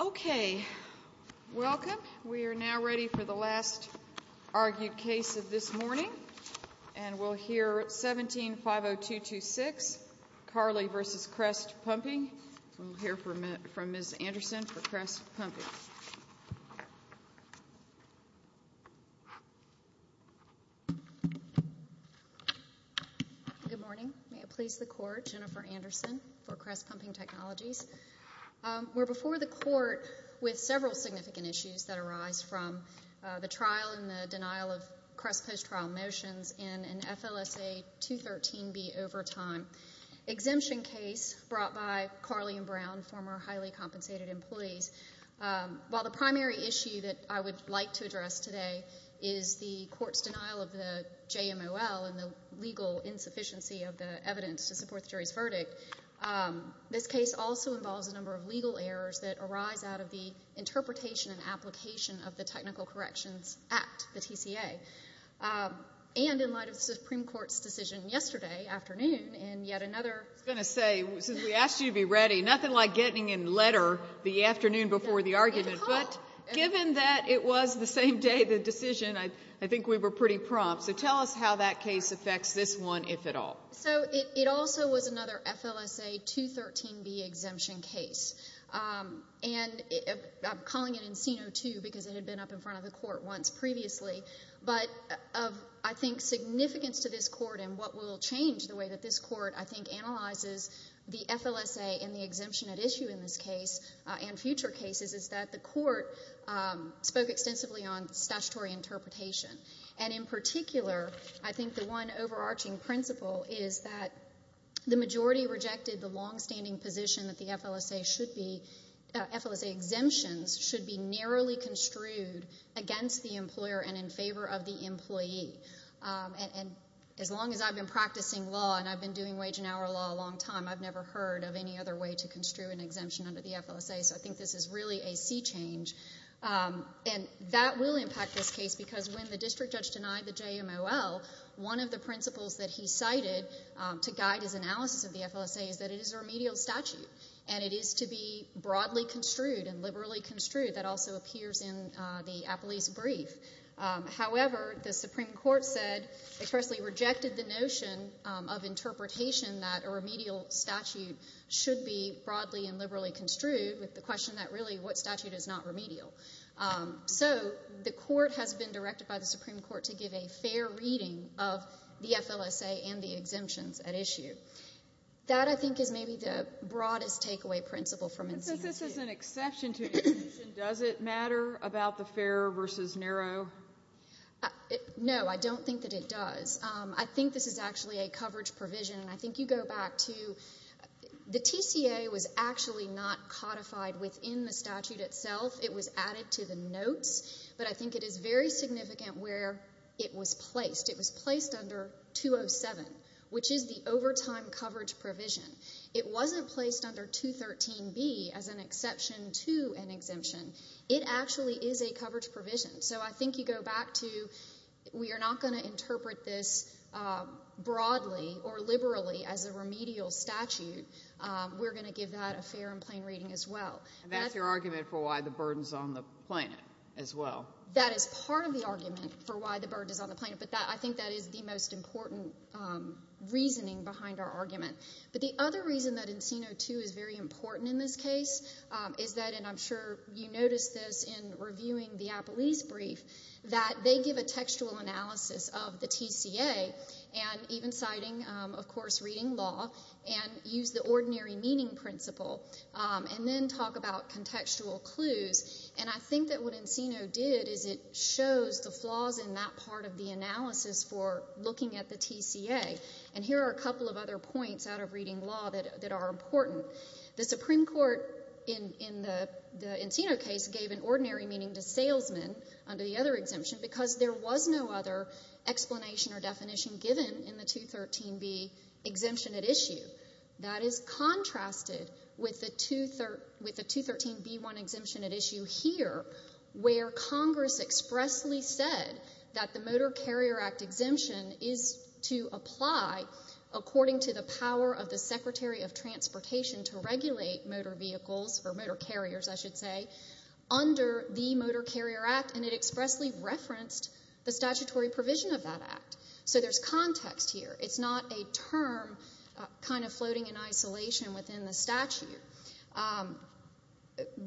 Okay. Welcome. We are now ready for the last argued case of this morning. And we'll hear 17-50226, Carley v. Crest Pumping. We'll hear from Ms. Anderson for Crest Pumping. Good morning. May it please the Court, Jennifer Anderson for Crest Pumping Technologies. We're before the Court with several significant issues that arise from the trial and the denial of Crest post-trial motions in an FLSA 213B overtime exemption case brought by Carley and Brown, former highly compensated employees. While the primary issue that I would like to address today is the Court's denial of the JMOL and the legal insufficiency of the evidence to support the jury's verdict, this case also involves a number of legal errors that arise out of the interpretation and application of the Technical Corrections Act, the TCA. And in light of the Supreme Court's decision yesterday afternoon in yet another— I was going to say, since we asked you to be ready, nothing like getting in letter the afternoon before the argument. But given that it was the same day the decision, I think we were pretty prompt. So tell us how that case affects this one, if at all. So it also was another FLSA 213B exemption case. And I'm calling it Encino II because it had been up in front of the Court once previously. But of, I think, significance to this Court and what will change the way that this Court, I think, analyzes the FLSA and the exemption at issue in this case and future cases is that the Court spoke extensively on statutory interpretation. And in particular, I think the one overarching principle is that the majority rejected the longstanding position that the FLSA should be— FLSA exemptions should be narrowly construed against the employer and in favor of the employee. And as long as I've been practicing law and I've been doing wage and hour law a long time, I've never heard of any other way to construe an exemption under the FLSA. So I think this is really a sea change. And that will impact this case because when the district judge denied the JMOL, one of the principles that he cited to guide his analysis of the FLSA is that it is a remedial statute and it is to be broadly construed and liberally construed. That also appears in the Appellee's Brief. However, the Supreme Court said, expressly rejected the notion of interpretation that a remedial statute should be broadly and liberally construed with the question that really what statute is not remedial. So the Court has been directed by the Supreme Court to give a fair reading of the FLSA and the exemptions at issue. That, I think, is maybe the broadest takeaway principle from— But since this is an exception to exemption, does it matter about the fair versus narrow? No, I don't think that it does. I think this is actually a coverage provision. And I think you go back to the TCA was actually not codified within the statute itself. It was added to the notes. But I think it is very significant where it was placed. It was placed under 207, which is the overtime coverage provision. It wasn't placed under 213B as an exception to an exemption. It actually is a coverage provision. So I think you go back to we are not going to interpret this broadly or liberally as a remedial statute. We're going to give that a fair and plain reading as well. And that's your argument for why the burden is on the plaintiff as well. That is part of the argument for why the burden is on the plaintiff. But I think that is the most important reasoning behind our argument. But the other reason that Encino II is very important in this case is that, and I'm sure you noticed this in reviewing the Apolis brief, that they give a textual analysis of the TCA and even citing, of course, reading law, and use the ordinary meaning principle, and then talk about contextual clues. And I think that what Encino did is it shows the flaws in that part of the analysis for looking at the TCA. And here are a couple of other points out of reading law that are important. The Supreme Court in the Encino case gave an ordinary meaning to salesman under the other exemption because there was no other explanation or definition given in the 213B exemption at issue. That is contrasted with the 213B-1 exemption at issue here, where Congress expressly said that the Motor Carrier Act exemption is to apply, according to the power of the Secretary of Transportation to regulate motor vehicles, or motor carriers, I should say, under the Motor Carrier Act, and it expressly referenced the statutory provision of that act. So there's context here. It's not a term kind of floating in isolation within the statute.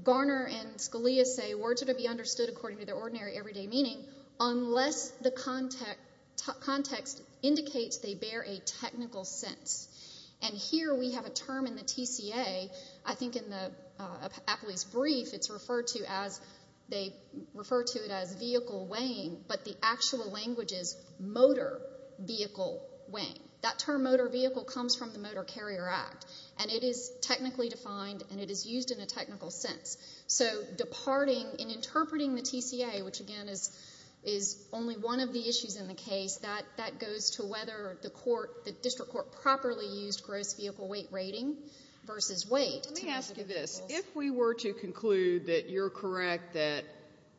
Garner and Scalia say, words are to be understood according to their ordinary, everyday meaning unless the context indicates they bear a technical sense. And here we have a term in the TCA, I think in the Appley's brief, it's referred to as they refer to it as vehicle weighing, but the actual language is motor vehicle weighing. That term motor vehicle comes from the Motor Carrier Act, and it is technically defined and it is used in a technical sense. So departing in interpreting the TCA, which, again, is only one of the issues in the case, that goes to whether the court, the district court, properly used gross vehicle weight rating versus weight. Let me ask you this. If we were to conclude that you're correct, that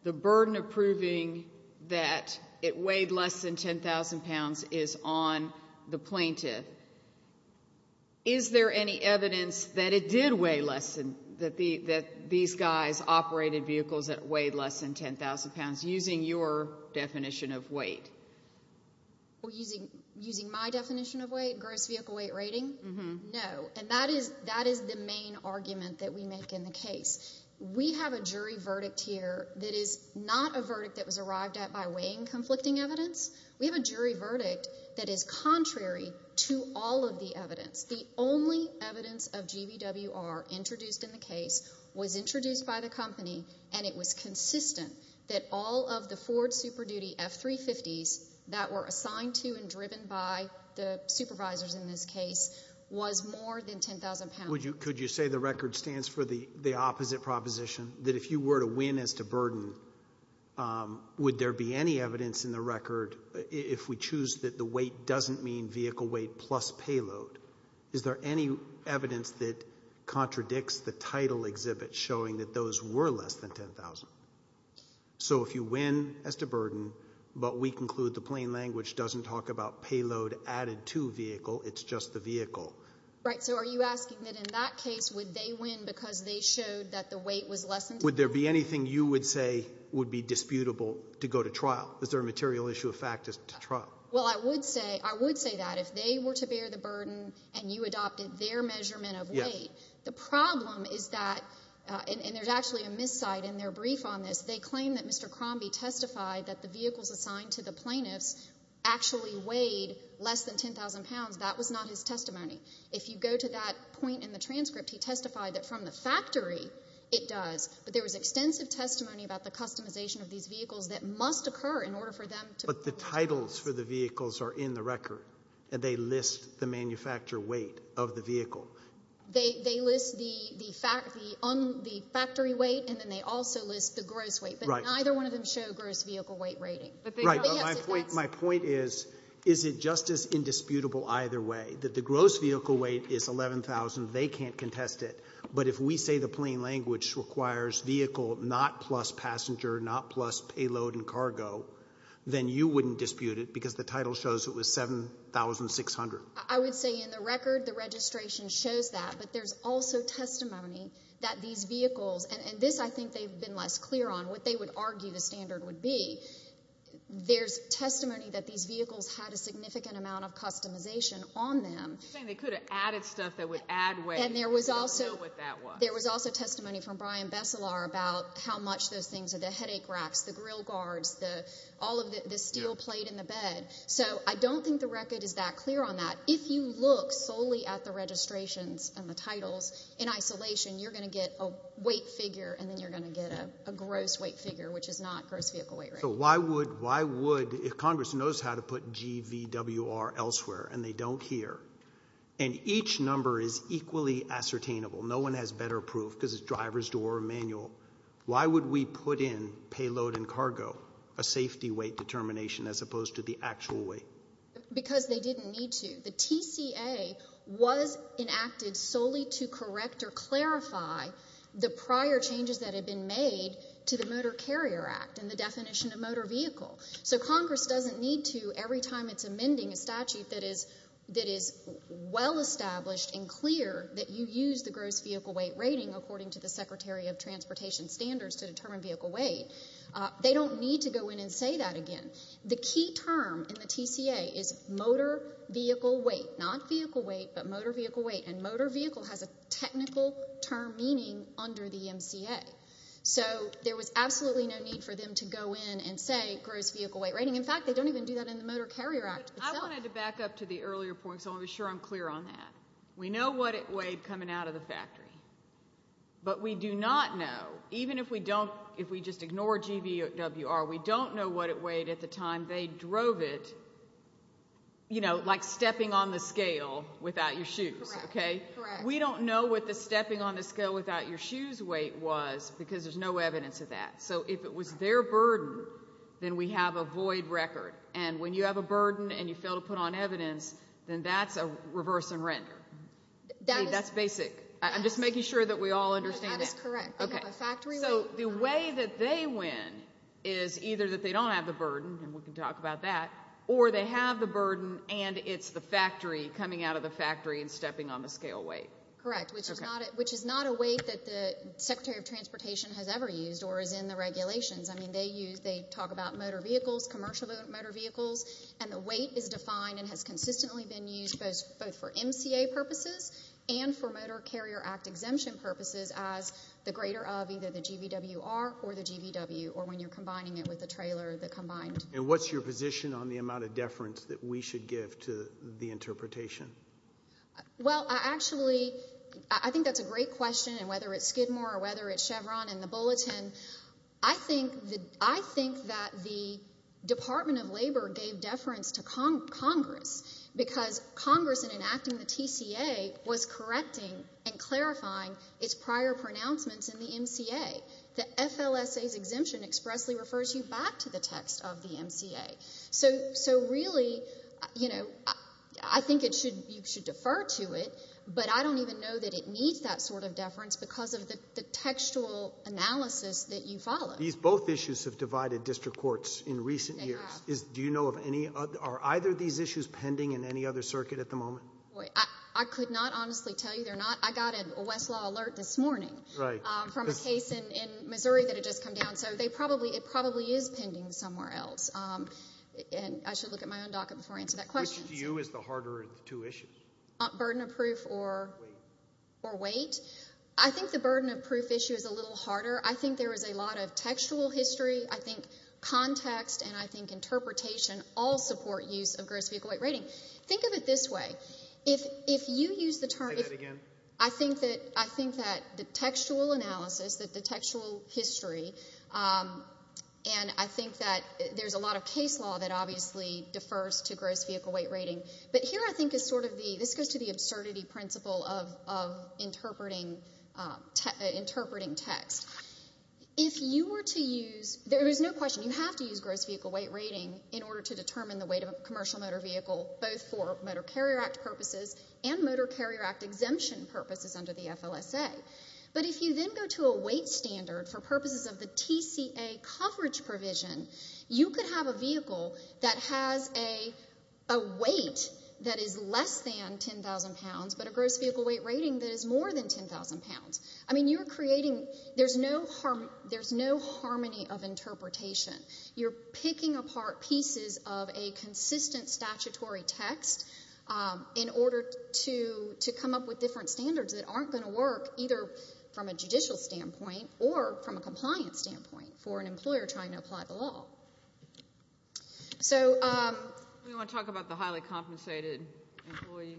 the burden of proving that it weighed less than 10,000 pounds is on the plaintiff, is there any evidence that it did weigh less, that these guys operated vehicles that weighed less than 10,000 pounds, using your definition of weight? Using my definition of weight, gross vehicle weight rating? No. And that is the main argument that we make in the case. We have a jury verdict here that is not a verdict that was arrived at by weighing conflicting evidence. We have a jury verdict that is contrary to all of the evidence. The only evidence of GVWR introduced in the case was introduced by the company, and it was consistent that all of the Ford Super Duty F350s that were assigned to and driven by the supervisors in this case was more than 10,000 pounds. Could you say the record stands for the opposite proposition, that if you were to win as to burden, would there be any evidence in the record, if we choose that the weight doesn't mean vehicle weight plus payload, is there any evidence that contradicts the title exhibit showing that those were less than 10,000? So if you win as to burden, but we conclude the plain language doesn't talk about payload added to vehicle, it's just the vehicle. Right. So are you asking that in that case would they win because they showed that the weight was less than 10,000? Would there be anything you would say would be disputable to go to trial? Is there a material issue of fact to trial? Well, I would say that. If they were to bear the burden and you adopted their measurement of weight, the problem is that, and there's actually a miscite in their brief on this, they claim that Mr. Crombie testified that the vehicles assigned to the plaintiffs actually weighed less than 10,000 pounds. That was not his testimony. If you go to that point in the transcript, he testified that from the factory it does, but there was extensive testimony about the customization of these vehicles that must occur in order for them to. But the titles for the vehicles are in the record, and they list the manufacturer weight of the vehicle. They list the factory weight, and then they also list the gross weight, but neither one of them show gross vehicle weight rating. Right. My point is, is it just as indisputable either way, that the gross vehicle weight is 11,000, they can't contest it, but if we say the plain language requires vehicle not plus passenger, not plus payload and cargo, then you wouldn't dispute it because the title shows it was 7,600. I would say in the record the registration shows that, but there's also testimony that these vehicles, and this I think they've been less clear on, what they would argue the standard would be, there's testimony that these vehicles had a significant amount of customization on them. You're saying they could have added stuff that would add weight, but they don't know what that was. There was also testimony from Brian Besselar about how much those things, the headache racks, the grill guards, all of the steel plate in the bed. So I don't think the record is that clear on that. If you look solely at the registrations and the titles, in isolation you're going to get a weight figure, and then you're going to get a gross weight figure, which is not gross vehicle weight. So why would, if Congress knows how to put GVWR elsewhere and they don't here, and each number is equally ascertainable, no one has better proof because it's driver's door or manual, why would we put in payload and cargo, a safety weight determination as opposed to the actual weight? Because they didn't need to. The TCA was enacted solely to correct or clarify the prior changes that had been made to the Motor Carrier Act and the definition of motor vehicle. So Congress doesn't need to, every time it's amending a statute that is well established and clear that you use the gross vehicle weight rating, according to the Secretary of Transportation Standards, to determine vehicle weight. They don't need to go in and say that again. The key term in the TCA is motor vehicle weight, not vehicle weight, but motor vehicle weight, and motor vehicle has a technical term meaning under the MCA. So there was absolutely no need for them to go in and say gross vehicle weight rating. In fact, they don't even do that in the Motor Carrier Act itself. I wanted to back up to the earlier point so I'm sure I'm clear on that. We know what it weighed coming out of the factory, but we do not know, even if we just ignore GVWR, we don't know what it weighed at the time they drove it, you know, like stepping on the scale without your shoes. We don't know what the stepping on the scale without your shoes weight was because there's no evidence of that. So if it was their burden, then we have a void record. And when you have a burden and you fail to put on evidence, then that's a reverse and render. That's basic. I'm just making sure that we all understand that. That is correct. So the way that they win is either that they don't have the burden, and we can talk about that, or they have the burden and it's the factory coming out of the factory and stepping on the scale weight. Correct, which is not a weight that the Secretary of Transportation has ever used or is in the regulations. I mean, they talk about motor vehicles, commercial motor vehicles, and the weight is defined and has consistently been used both for MCA purposes and for Motor Carrier Act exemption purposes as the greater of either the GVWR or the GVW, or when you're combining it with the trailer, the combined. And what's your position on the amount of deference that we should give to the interpretation? Well, actually, I think that's a great question, and whether it's Skidmore or whether it's Chevron and the Bulletin, I think that the Department of Labor gave deference to Congress because Congress, in enacting the TCA, was correcting and clarifying its prior pronouncements in the MCA. The FLSA's exemption expressly refers you back to the text of the MCA. So really, I think you should defer to it, but I don't even know that it needs that sort of deference because of the textual analysis that you follow. Both issues have divided district courts in recent years. They have. Are either of these issues pending in any other circuit at the moment? I could not honestly tell you they're not. I got a Westlaw alert this morning from a case in Missouri that had just come down, so it probably is pending somewhere else. And I should look at my own docket before I answer that question. Which to you is the harder of the two issues? Burden of proof or weight? I think the burden of proof issue is a little harder. I think there is a lot of textual history. I think context and I think interpretation all support use of gross vehicle weight rating. Think of it this way. If you use the term... Say that again. I think that the textual analysis, the textual history, and I think that there's a lot of case law that obviously defers to gross vehicle weight rating. But here I think is sort of the, this goes to the absurdity principle of interpreting text. If you were to use, there is no question, you have to use gross vehicle weight rating in order to determine the weight of a commercial motor vehicle, both for Motor Carrier Act purposes and Motor Carrier Act exemption purposes under the FLSA. But if you then go to a weight standard for purposes of the TCA coverage provision, you could have a vehicle that has a weight that is less than 10,000 pounds but a gross vehicle weight rating that is more than 10,000 pounds. I mean, you're creating, there's no harmony of interpretation. You're picking apart pieces of a consistent statutory text in order to come up with different standards that aren't going to work either from a judicial standpoint or from a compliance standpoint for an employer trying to apply the law. So... Do you want to talk about the highly compensated employee?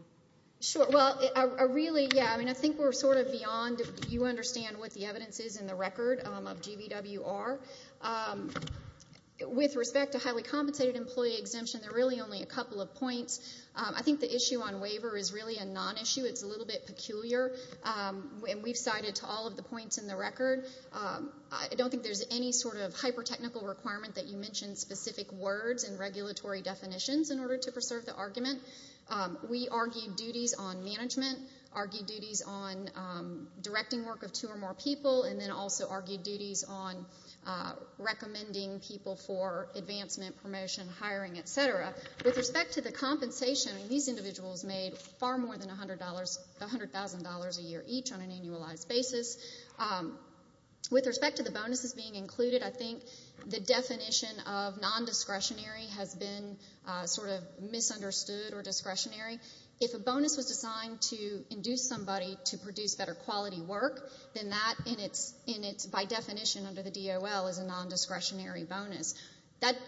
Sure. Well, really, yeah, I mean, I think we're sort of beyond, you understand what the evidence is in the record of GBWR. With respect to highly compensated employee exemption, there are really only a couple of points. I think the issue on waiver is really a non-issue. It's a little bit peculiar, and we've cited to all of the points in the record. I don't think there's any sort of hyper-technical requirement that you mention specific words and regulatory definitions in order to preserve the argument. We argued duties on management, argued duties on directing work of two or more people, and then also argued duties on recommending people for advancement, promotion, hiring, et cetera. With respect to the compensation, these individuals made far more than $100,000 a year each on an annualized basis. With respect to the bonuses being included, I think the definition of non-discretionary has been sort of misunderstood or discretionary. If a bonus was designed to induce somebody to produce better-quality work, then that, by definition under the DOL, is a non-discretionary bonus.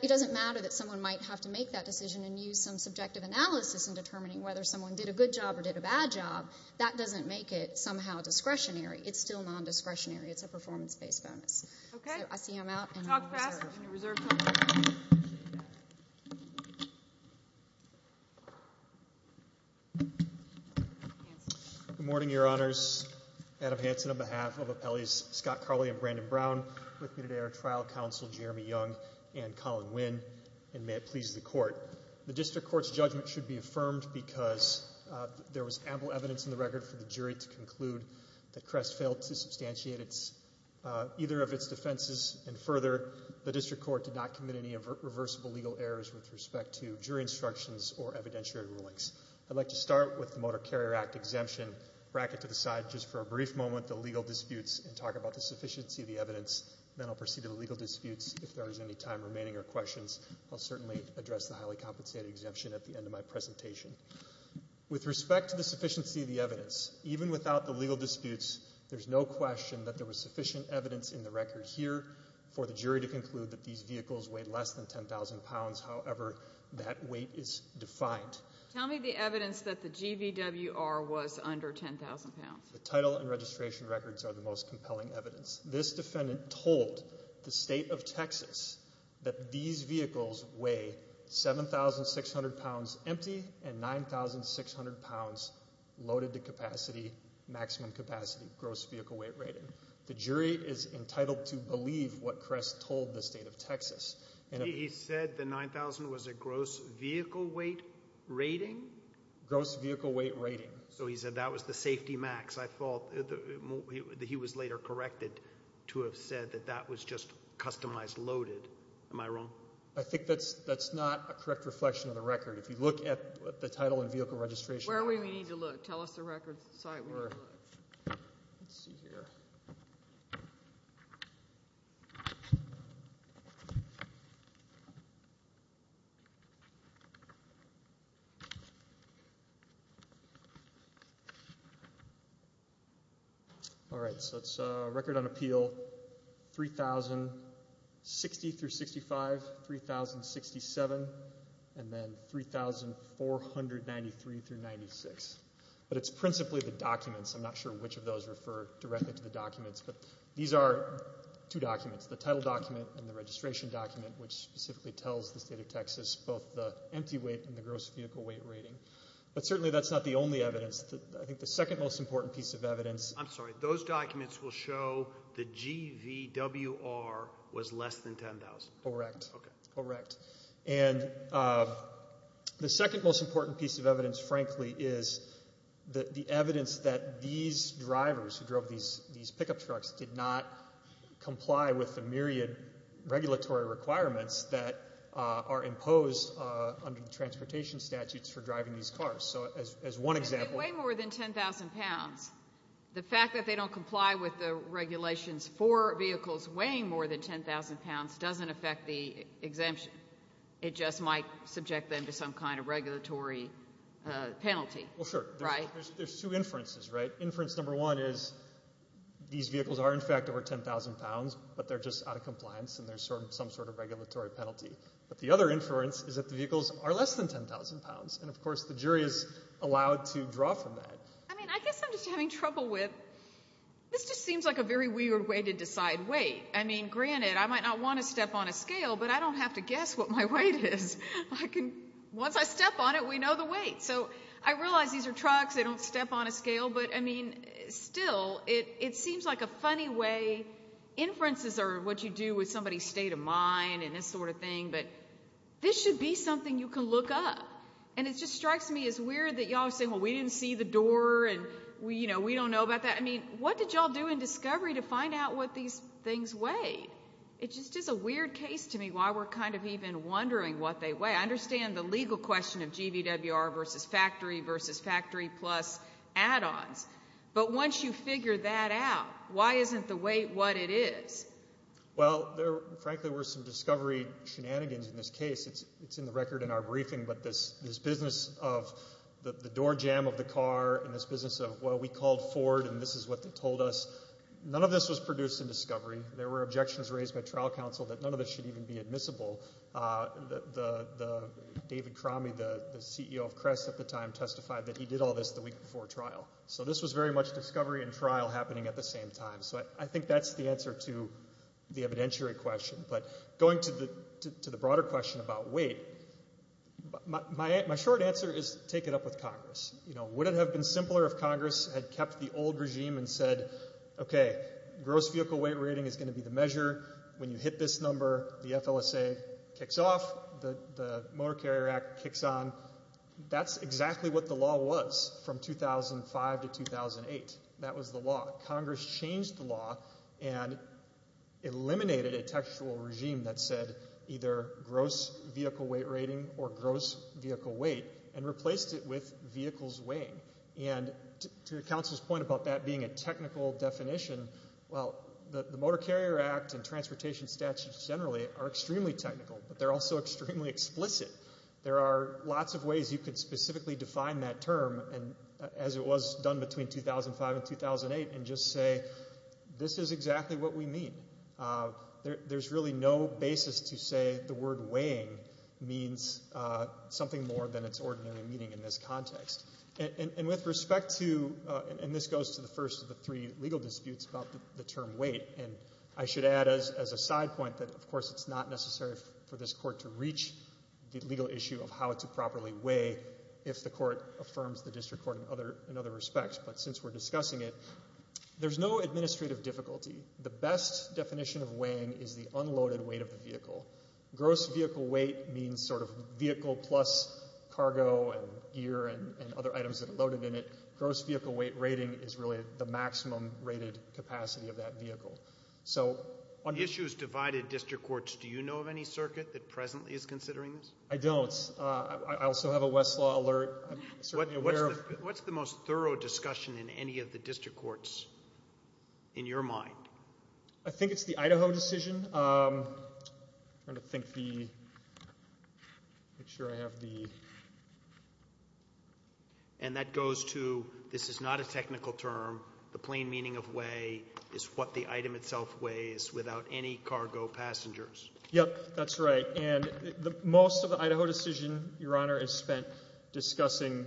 It doesn't matter that someone might have to make that decision and use some subjective analysis in determining whether someone did a good job or did a bad job. That doesn't make it somehow discretionary. It's still non-discretionary. It's a performance-based bonus. Okay. So I see I'm out, and I'm going to reserve. Talk fast, and you reserve time. Good morning, Your Honors. Adam Hansen on behalf of Appellees Scott Carley and Brandon Brown. With me today are Trial Counsel Jeremy Young and Colin Wynn, and may it please the Court. The District Court's judgment should be affirmed because there was ample evidence in the record for the jury to conclude that Crest failed to substantiate either of its defenses, and further, the District Court did not commit any reversible legal errors with respect to jury instructions or evidentiary rulings. I'd like to start with the Motor Carrier Act exemption, bracket to the side just for a brief moment, the legal disputes, and talk about the sufficiency of the evidence. Then I'll proceed to the legal disputes. If there is any time remaining or questions, I'll certainly address the highly compensated exemption at the end of my presentation. With respect to the sufficiency of the evidence, even without the legal disputes, there's no question that there was sufficient evidence in the record here for the jury to conclude that these vehicles weighed less than 10,000 pounds, however that weight is defined. Tell me the evidence that the GVWR was under 10,000 pounds. The title and registration records are the most compelling evidence. This defendant told the state of Texas that these vehicles weigh 7,600 pounds empty and 9,600 pounds loaded to capacity, maximum capacity, gross vehicle weight rating. The jury is entitled to believe what Crest told the state of Texas. He said the 9,000 was a gross vehicle weight rating? Gross vehicle weight rating. So he said that was the safety max. He was later corrected to have said that that was just customized loaded. Am I wrong? I think that's not a correct reflection of the record. If you look at the title and vehicle registration records... Where do we need to look? Tell us the record site where we need to look. Let's see here. All right, so it's record on appeal, 3,060 through 65, 3,067, and then 3,493 through 96. But it's principally the documents. I'm not sure which of those refer directly to the documents, but these are two documents, the title document and the registration document, which specifically tells the state of Texas both the empty weight and the gross vehicle weight rating. But certainly that's not the only evidence. I think the second most important piece of evidence... I'm sorry. Those documents will show the GVWR was less than 10,000. Correct. Okay. Correct. And the second most important piece of evidence, frankly, is the evidence that these drivers who drove these pickup trucks did not comply with the myriad regulatory requirements that are imposed under the transportation statutes for driving these cars. So as one example... If they weigh more than 10,000 pounds, the fact that they don't comply with the regulations for vehicles weighing more than 10,000 pounds doesn't affect the exemption. It just might subject them to some kind of regulatory penalty. Well, sure. There's two inferences, right? Inference number one is these vehicles are, in fact, over 10,000 pounds, but they're just out of compliance and there's some sort of regulatory penalty. But the other inference is that the vehicles are less than 10,000 pounds, and of course the jury is allowed to draw from that. I mean, I guess I'm just having trouble with... This just seems like a very weird way to decide weight. I mean, granted, I might not want to step on a scale, but I don't have to guess what my weight is. I can... Once I step on it, we know the weight. So I realize these are trucks, they don't step on a scale, but, I mean, still, it seems like a funny way... state of mind and this sort of thing, but this should be something you can look up. And it just strikes me as weird that y'all are saying, well, we didn't see the door and we don't know about that. I mean, what did y'all do in discovery to find out what these things weighed? It just is a weird case to me why we're kind of even wondering what they weigh. I understand the legal question of GVWR versus factory versus factory plus add-ons, but once you figure that out, why isn't the weight what it is? Well, there, frankly, were some discovery shenanigans in this case. It's in the record in our briefing, but this business of the door jam of the car and this business of, well, we called Ford and this is what they told us, none of this was produced in discovery. There were objections raised by trial counsel that none of this should even be admissible. The...David Crommey, the CEO of Crest at the time, testified that he did all this the week before trial. So this was very much discovery and trial happening at the same time. So I think that's the answer to the evidentiary question. But going to the broader question about weight, my short answer is take it up with Congress. Would it have been simpler if Congress had kept the old regime and said, OK, gross vehicle weight rating is going to be the measure. When you hit this number, the FLSA kicks off, the Motor Carrier Act kicks on. That's exactly what the law was from 2005 to 2008. That was the law. Congress changed the law and eliminated a textual regime that said either gross vehicle weight rating or gross vehicle weight and replaced it with vehicles weighing. And to your counsel's point about that being a technical definition, well, the Motor Carrier Act and transportation statutes generally are extremely technical, but they're also extremely explicit. There are lots of ways you could specifically define that term, as it was done between 2005 and 2008, and just say this is exactly what we mean. There's really no basis to say the word weighing means something more than its ordinary meaning in this context. And with respect to, and this goes to the first of the three legal disputes about the term weight, and I should add as a side point that, of course, it's not necessary for this court to reach the legal issue of how to properly weigh if the court affirms the district court in other respects. But since we're discussing it, there's no administrative difficulty. The best definition of weighing is the unloaded weight of the vehicle. Gross vehicle weight means sort of vehicle plus cargo and gear and other items that are loaded in it. Gross vehicle weight rating is really the maximum rated capacity of that vehicle. On issues divided district courts, do you know of any circuit that presently is considering this? I don't. I also have a Westlaw alert. What's the most thorough discussion in any of the district courts in your mind? I think it's the Idaho decision. I'm going to think the, make sure I have the. And that goes to this is not a technical term. The plain meaning of weigh is what the item itself weighs without any cargo passengers. Yep, that's right. And most of the Idaho decision, Your Honor, is spent discussing.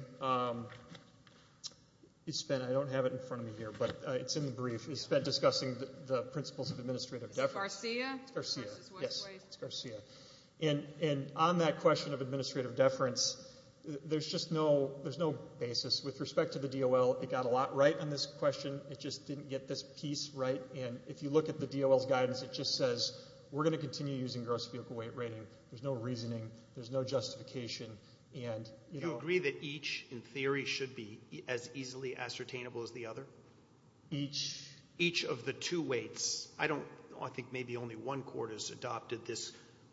It's been, I don't have it in front of me here, but it's in the brief. It's been discussing the principles of administrative deference. Is it Garcia? It's Garcia. Yes, it's Garcia. And on that question of administrative deference, there's just no, there's no basis. With respect to the DOL, it got a lot right on this question. It just didn't get this piece right. And if you look at the DOL's guidance, it just says we're going to continue using gross vehicle weight rating. There's no reasoning. There's no justification. Do you agree that each, in theory, should be as easily ascertainable as the other? Each? Each of the two weights. I don't, I think maybe only one court has adopted this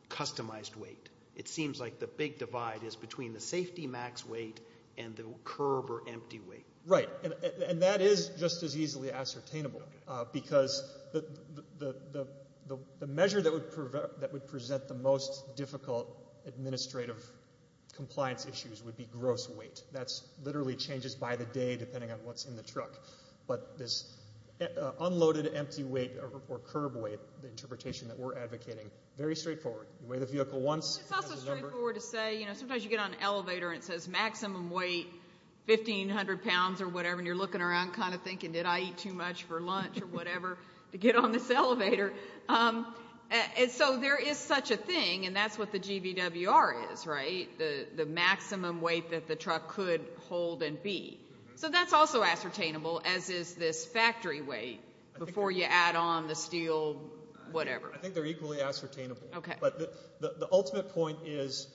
customized weight. It seems like the big divide is between the safety max weight and the curb or empty weight. Right. And that is just as easily ascertainable because the measure that would present the most difficult administrative compliance issues would be gross weight. That literally changes by the day depending on what's in the truck. But this unloaded empty weight or curb weight, the interpretation that we're advocating, very straightforward. You weigh the vehicle once. It's also straightforward to say, you know, sometimes you get on an elevator and it says maximum weight, 1,500 pounds or whatever, and you're looking around kind of thinking, did I eat too much for lunch or whatever to get on this elevator? And so there is such a thing, and that's what the GBWR is, right, the maximum weight that the truck could hold and be. So that's also ascertainable, as is this factory weight before you add on the steel whatever. I think they're equally ascertainable. But the ultimate point is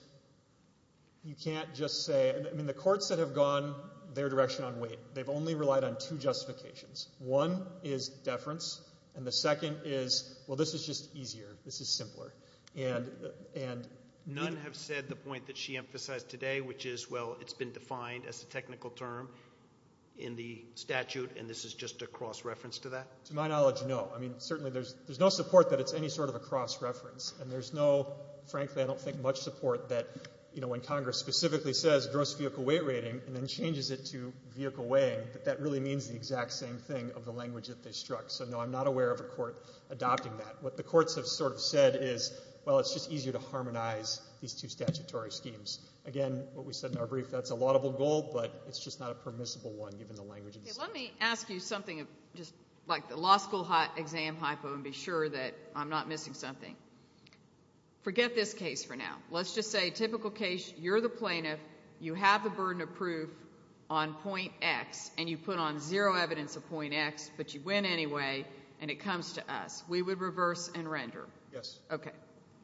you can't just say, I mean, the courts that have gone their direction on weight, they've only relied on two justifications. One is deference, and the second is, well, this is just easier. This is simpler. And none have said the point that she emphasized today, which is, well, it's been defined as a technical term in the statute, and this is just a cross reference to that. To my knowledge, no. I mean, certainly there's no support that it's any sort of a cross reference. And there's no, frankly, I don't think much support that, you know, when Congress specifically says gross vehicle weight rating and then changes it to vehicle weighing, that that really means the exact same thing of the language that they struck. So, no, I'm not aware of a court adopting that. What the courts have sort of said is, well, it's just easier to harmonize these two statutory schemes. Again, what we said in our brief, that's a laudable goal, but it's just not a permissible one given the language. Let me ask you something, just like the law school exam hypo, and be sure that I'm not missing something. Forget this case for now. Let's just say, typical case, you're the plaintiff, you have the burden of proof on point X, and you put on zero evidence of point X, but you win anyway, and it comes to us. We would reverse and render. Yes. Okay.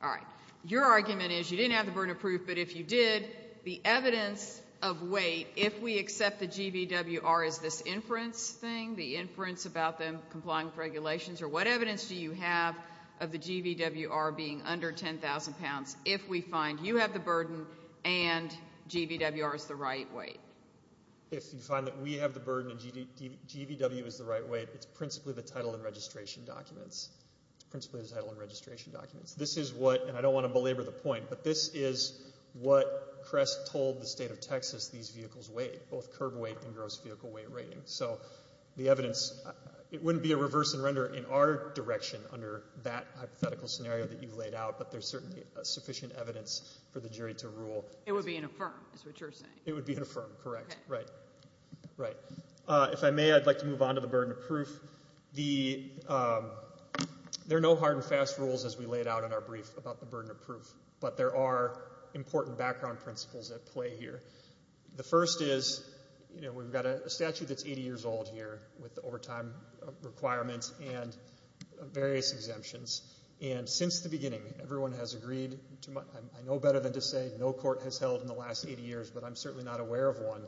All right. Your argument is you didn't have the burden of proof, but if you did, the evidence of weight, if we accept the GVWR as this inference thing, the inference about them complying with regulations, or what evidence do you have of the GVWR being under 10,000 pounds if we find you have the burden and GVWR is the right weight? If you find that we have the burden and GVW is the right weight, it's principally the title and registration documents. It's principally the title and registration documents. This is what, and I don't want to belabor the point, but this is what Crest told the State of Texas these vehicles weigh, both curb weight and gross vehicle weight rating. So the evidence, it wouldn't be a reverse and render in our direction under that hypothetical scenario that you've laid out, but there's certainly sufficient evidence for the jury to rule. It would be an affirm, is what you're saying. It would be an affirm, correct. Okay. Right. Right. If I may, I'd like to move on to the burden of proof. There are no hard and fast rules as we laid out in our brief about the burden of proof, but there are important background principles at play here. The first is, you know, we've got a statute that's 80 years old here with the overtime requirements and various exemptions, and since the beginning everyone has agreed, I know better than to say, no court has held in the last 80 years, but I'm certainly not aware of one,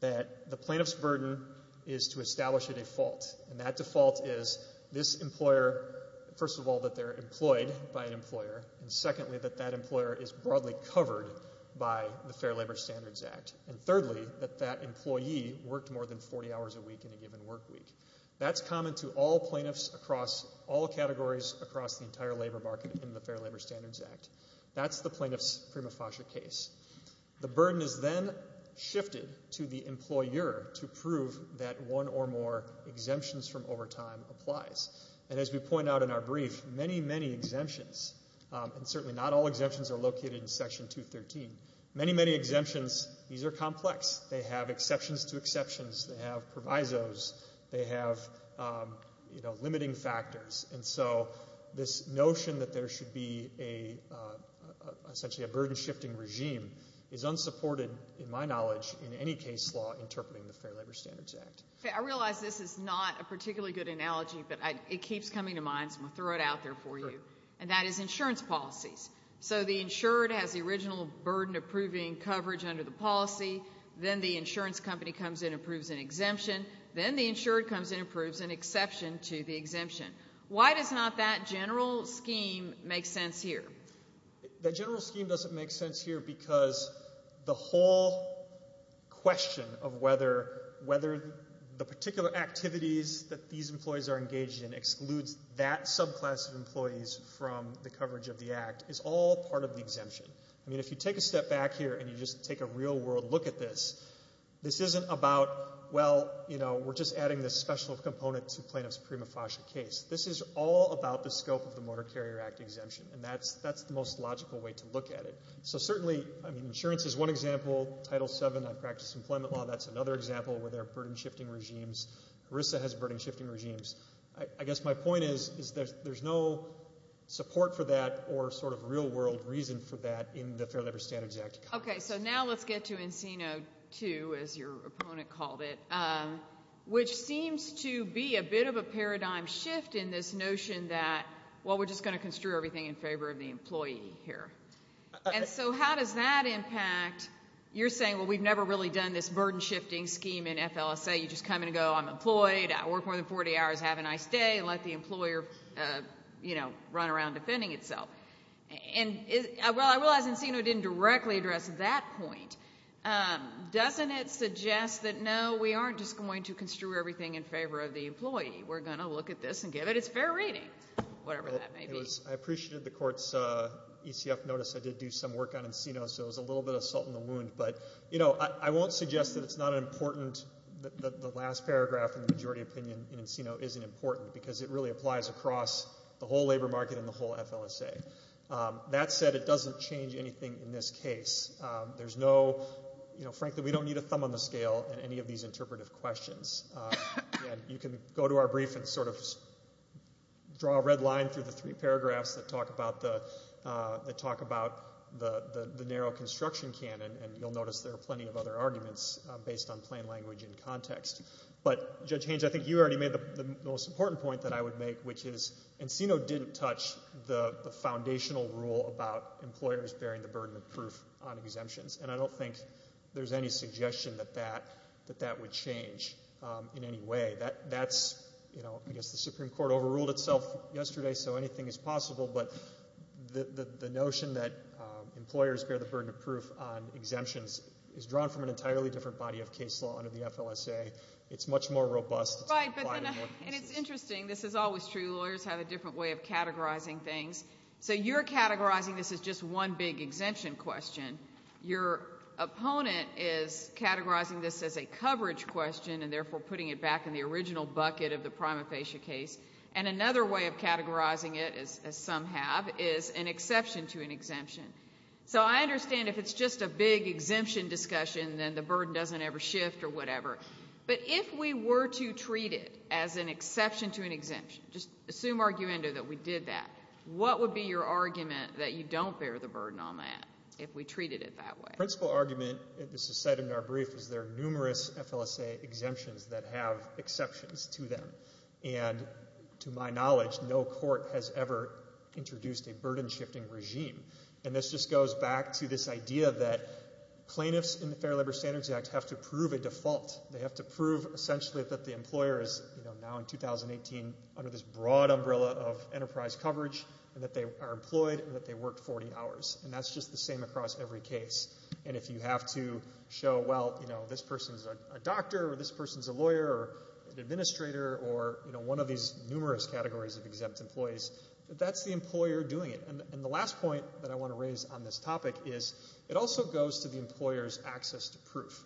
that the plaintiff's burden is to establish a default, and that default is this employer, first of all, that they're employed by an employer, and secondly, that that employer is broadly covered by the Fair Labor Standards Act, and thirdly, that that employee worked more than 40 hours a week in a given work week. That's common to all plaintiffs across all categories across the entire labor market in the Fair Labor Standards Act. That's the plaintiff's prima facie case. The burden is then shifted to the employer to prove that one or more exemptions from overtime applies, and as we point out in our brief, many, many exemptions, and certainly not all exemptions are located in Section 213. Many, many exemptions, these are complex. They have exceptions to exceptions. They have provisos. They have, you know, limiting factors, and so this notion that there should be essentially a burden-shifting regime is unsupported, in my knowledge, in any case law interpreting the Fair Labor Standards Act. I realize this is not a particularly good analogy, but it keeps coming to mind, so I'm going to throw it out there for you, and that is insurance policies. So the insured has the original burden approving coverage under the policy. Then the insurance company comes in and approves an exemption. Then the insured comes in and approves an exception to the exemption. Why does not that general scheme make sense here? The general scheme doesn't make sense here because the whole question of whether the particular activities that these employees are engaged in excludes that subclass of employees from the coverage of the act is all part of the exemption. I mean, if you take a step back here and you just take a real-world look at this, this isn't about, well, you know, we're just adding this special component to plaintiff's prima facie case. This is all about the scope of the Motor Carrier Act exemption, and that's the most logical way to look at it. So certainly, I mean, insurance is one example. Title VII, I practice employment law, that's another example where there are burden-shifting regimes. HRSA has burden-shifting regimes. I guess my point is there's no support for that or sort of real-world reason for that in the Fair Labor Standards Act. Okay, so now let's get to Encino II, as your opponent called it, which seems to be a bit of a paradigm shift in this notion that, well, we're just going to construe everything in favor of the employee here. And so how does that impact? You're saying, well, we've never really done this burden-shifting scheme in FLSA. You just come and go, I'm employed, I work more than 40 hours, have a nice day, and let the employer, you know, run around defending itself. Well, I realize Encino didn't directly address that point. Doesn't it suggest that, no, we aren't just going to construe everything in favor of the employee? We're going to look at this and give it its fair rating, whatever that may be. I appreciated the court's ECF notice. I did do some work on Encino, so it was a little bit of salt in the wound. But, you know, I won't suggest that it's not important, that the last paragraph in the majority opinion in Encino isn't important because it really applies across the whole labor market and the whole FLSA. That said, it doesn't change anything in this case. There's no, you know, frankly, we don't need a thumb on the scale in any of these interpretive questions. You can go to our brief and sort of draw a red line through the three paragraphs that talk about the narrow construction canon, and you'll notice there are plenty of other arguments based on plain language and context. But, Judge Haynes, I think you already made the most important point that I would make, which is Encino didn't touch the foundational rule about employers bearing the burden of proof on exemptions. And I don't think there's any suggestion that that would change in any way. That's, you know, I guess the Supreme Court overruled itself yesterday, so anything is possible. But the notion that employers bear the burden of proof on exemptions is drawn from an entirely different body of case law under the FLSA. It's much more robust. And it's interesting. This is always true. Lawyers have a different way of categorizing things. So you're categorizing this as just one big exemption question. Your opponent is categorizing this as a coverage question and therefore putting it back in the original bucket of the prima facie case. And another way of categorizing it, as some have, is an exception to an exemption. So I understand if it's just a big exemption discussion, then the burden doesn't ever shift or whatever. But if we were to treat it as an exception to an exemption, just assume arguendo that we did that, what would be your argument that you don't bear the burden on that if we treated it that way? The principal argument, and this is cited in our brief, is there are numerous FLSA exemptions that have exceptions to them. And to my knowledge, no court has ever introduced a burden-shifting regime. And this just goes back to this idea that plaintiffs in the Fair Labor Standards Act have to prove a default. They have to prove essentially that the employer is now in 2018 under this broad umbrella of enterprise coverage and that they are employed and that they worked 40 hours. And that's just the same across every case. And if you have to show, well, this person's a doctor or this person's a lawyer or an administrator or one of these numerous categories of exempt employees, that's the employer doing it. And the last point that I want to raise on this topic is it also goes to the employer's access to proof.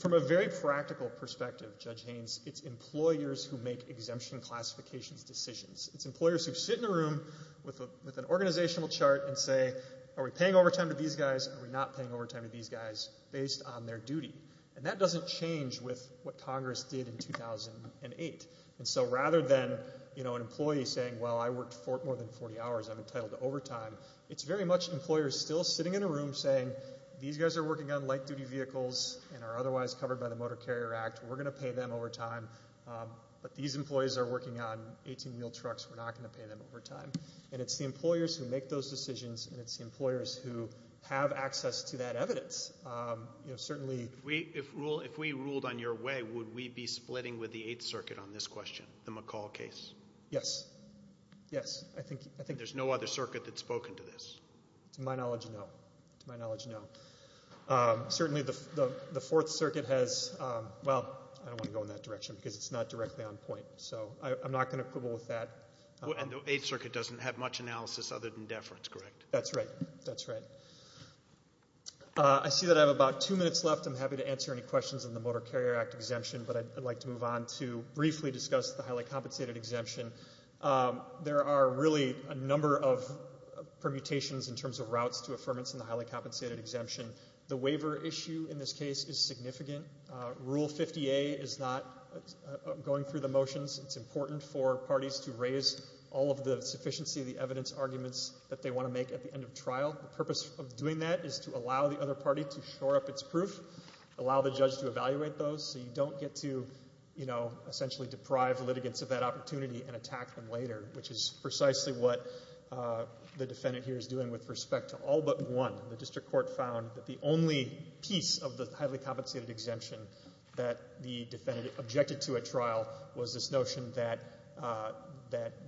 From a very practical perspective, Judge Haynes, it's employers who make exemption classifications decisions. It's employers who sit in a room with an organizational chart and say, are we paying overtime to these guys, are we not paying overtime to these guys based on their duty? And that doesn't change with what Congress did in 2008. And so rather than an employee saying, well, I worked more than 40 hours, I'm entitled to overtime, it's very much employers still sitting in a room saying, these guys are working on light-duty vehicles and are otherwise covered by the Motor Carrier Act, we're going to pay them overtime, but these employees are working on 18-wheel trucks, we're not going to pay them overtime. And it's the employers who make those decisions and it's the employers who have access to that evidence. If we ruled on your way, would we be splitting with the Eighth Circuit on this question, the McCall case? Yes, yes. There's no other circuit that's spoken to this? To my knowledge, no. Certainly the Fourth Circuit has, well, I don't want to go in that direction because it's not directly on point. So I'm not going to quibble with that. And the Eighth Circuit doesn't have much analysis other than deference, correct? That's right. I see that I have about two minutes left. I'm happy to answer any questions on the Motor Carrier Act exemption, but I'd like to move on to briefly discuss the highly compensated exemption. There are really a number of permutations in terms of routes to affirmance in the highly compensated exemption. The waiver issue in this case is significant. Rule 50A is not going through the motions. It's important for parties to raise all of the sufficiency of the evidence arguments that they want to make at the end of trial. The purpose of doing that is to allow the other party to shore up its proof, allow the judge to evaluate those, so you don't get to, you know, essentially deprive the litigants of that opportunity and attack them later, which is precisely what the defendant here is doing with respect to all but one. The district court found that the only piece of the highly compensated exemption that the defendant objected to at trial was this notion that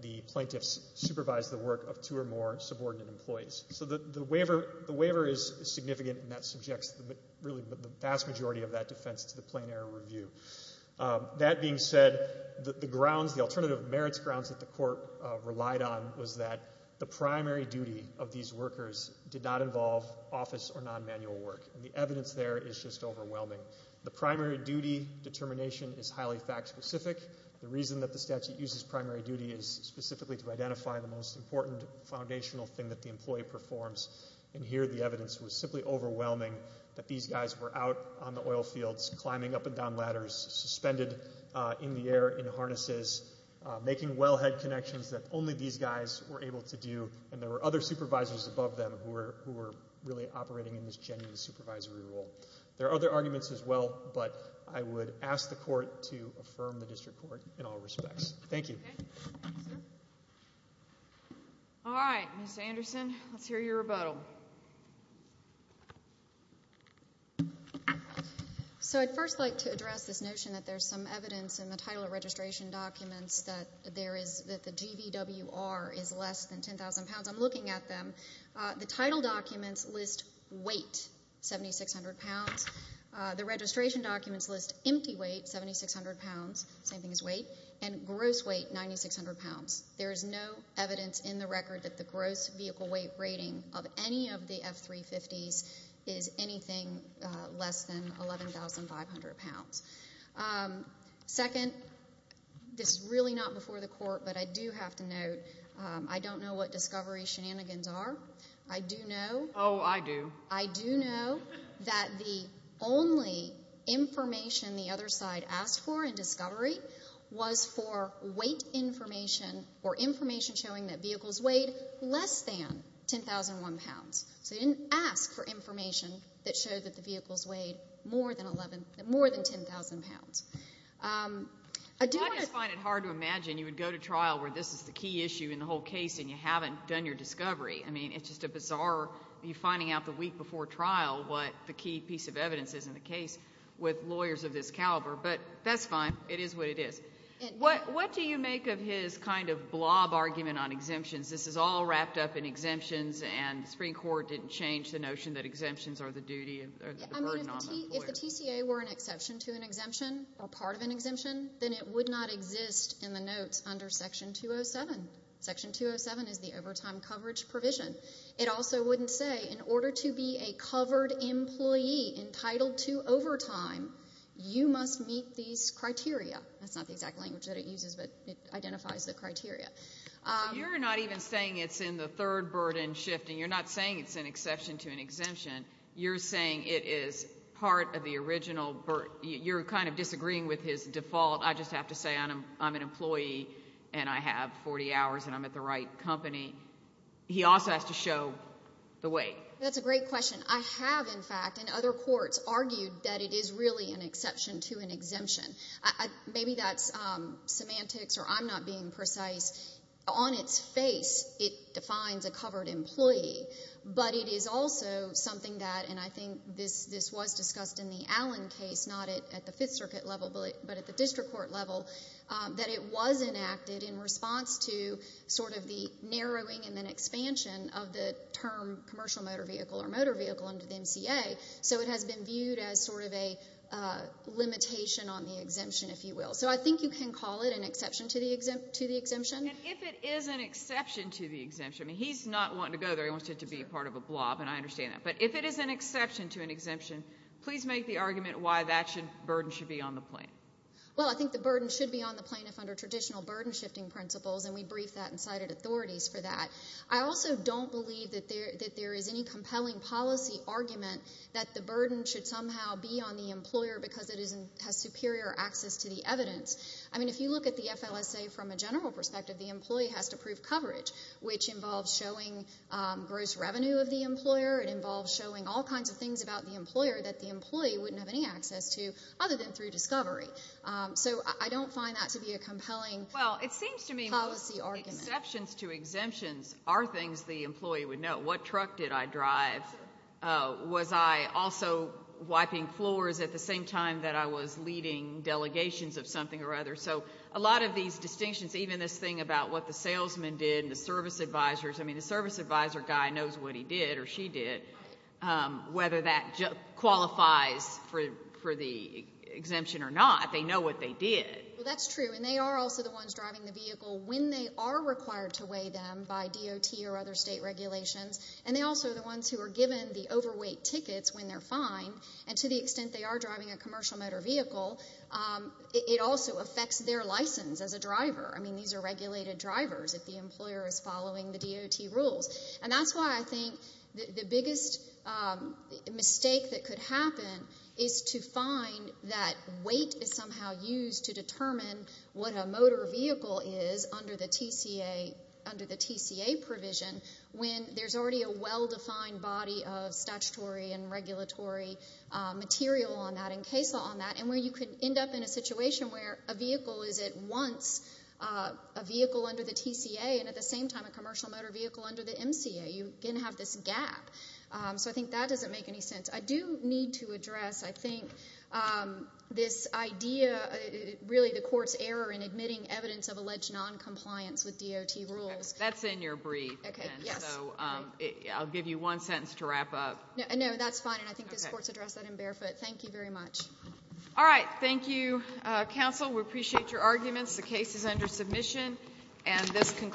the plaintiffs supervised the work of two or more subordinate employees. So the waiver is significant, and that subjects really the vast majority of that defense to the plain error review. That being said, the grounds, the alternative merits grounds that the court relied on was that the primary duty of these workers did not involve office or non-manual work, and the evidence there is just overwhelming. The primary duty determination is highly fact-specific. The reason that the statute uses primary duty is specifically to identify the most important foundational thing that the employee performs, and here the evidence was simply overwhelming that these guys were out on the oil fields, climbing up and down ladders, suspended in the air in harnesses, making wellhead connections that only these guys were able to do, and there were other supervisors above them who were really operating in this genuine supervisory role. There are other arguments as well, but I would ask the court to affirm the district court in all respects. Thank you. All right. Ms. Anderson, let's hear your rebuttal. So I'd first like to address this notion that there's some evidence in the title of registration documents that the GVWR is less than 10,000 pounds. I'm looking at them. The title documents list weight, 7,600 pounds. The registration documents list empty weight, 7,600 pounds, same thing as weight, and gross weight, 9,600 pounds. There is no evidence in the record that the gross vehicle weight rating of any of the F-350s is anything less than 11,500 pounds. Second, this is really not before the court, but I do have to note, I don't know what discovery shenanigans are. I do know. Oh, I do. I do know that the only information the other side asked for in discovery was for weight information or information showing that vehicles weighed less than 10,001 pounds. So they didn't ask for information that showed that the vehicles weighed more than 10,000 pounds. I just find it hard to imagine you would go to trial where this is the key issue in the whole case and you haven't done your discovery. I mean, it's just a bizarre finding out the week before trial what the key piece of evidence is in the case with lawyers of this caliber. But that's fine. It is what it is. What do you make of his kind of blob argument on exemptions? This is all wrapped up in exemptions, and the Supreme Court didn't change the notion that exemptions are the duty or the burden on the employer. I mean, if the TCA were an exception to an exemption or part of an exemption, then it would not exist in the notes under Section 207. Section 207 is the overtime coverage provision. It also wouldn't say, in order to be a covered employee entitled to overtime, you must meet these criteria. That's not the exact language that it uses, but it identifies the criteria. You're not even saying it's in the third burden shifting. You're not saying it's an exception to an exemption. You're saying it is part of the original burden. You're kind of disagreeing with his default. I just have to say I'm an employee and I have 40 hours and I'm at the right company. He also has to show the weight. That's a great question. I have, in fact, in other courts, argued that it is really an exception to an exemption. Maybe that's semantics or I'm not being precise. On its face, it defines a covered employee, but it is also something that, and I think this was discussed in the Allen case, not at the Fifth Circuit level, but at the district court level, that it was enacted in response to sort of the narrowing and then expansion of the term commercial motor vehicle or motor vehicle under the MCA. So it has been viewed as sort of a limitation on the exemption, if you will. So I think you can call it an exception to the exemption. And if it is an exception to the exemption, I mean, he's not wanting to go there. He wants it to be part of a blob, and I understand that. But if it is an exception to an exemption, please make the argument why that burden should be on the plaintiff. Well, I think the burden should be on the plaintiff under traditional burden shifting principles, and we briefed that and cited authorities for that. I also don't believe that there is any compelling policy argument that the burden should somehow be on the employer because it has superior access to the evidence. I mean, if you look at the FLSA from a general perspective, the employee has to prove coverage, which involves showing gross revenue of the employer. It involves showing all kinds of things about the employer that the employee wouldn't have any access to other than through discovery. So I don't find that to be a compelling policy argument. Exceptions to exemptions are things the employee would know. What truck did I drive? Was I also wiping floors at the same time that I was leading delegations of something or other? So a lot of these distinctions, even this thing about what the salesman did and the service advisors, I mean, the service advisor guy knows what he did or she did. Whether that qualifies for the exemption or not, they know what they did. Well, that's true, and they are also the ones driving the vehicle. When they are required to weigh them by DOT or other state regulations, and they also are the ones who are given the overweight tickets when they're fined, and to the extent they are driving a commercial motor vehicle, it also affects their license as a driver. I mean, these are regulated drivers if the employer is following the DOT rules. And that's why I think the biggest mistake that could happen is to find that weight is somehow used to determine what a motor vehicle is under the TCA provision when there's already a well-defined body of statutory and regulatory material on that and CASA on that, and where you could end up in a situation where a vehicle is at once a vehicle under the TCA and at the same time a commercial motor vehicle under the MCA. You can have this gap. So I think that doesn't make any sense. I do need to address, I think, this idea, really the court's error in admitting evidence of alleged noncompliance with DOT rules. That's in your brief, and so I'll give you one sentence to wrap up. No, that's fine, and I think this court's addressed that in barefoot. Thank you very much. All right, thank you, counsel. We appreciate your arguments. The case is under submission.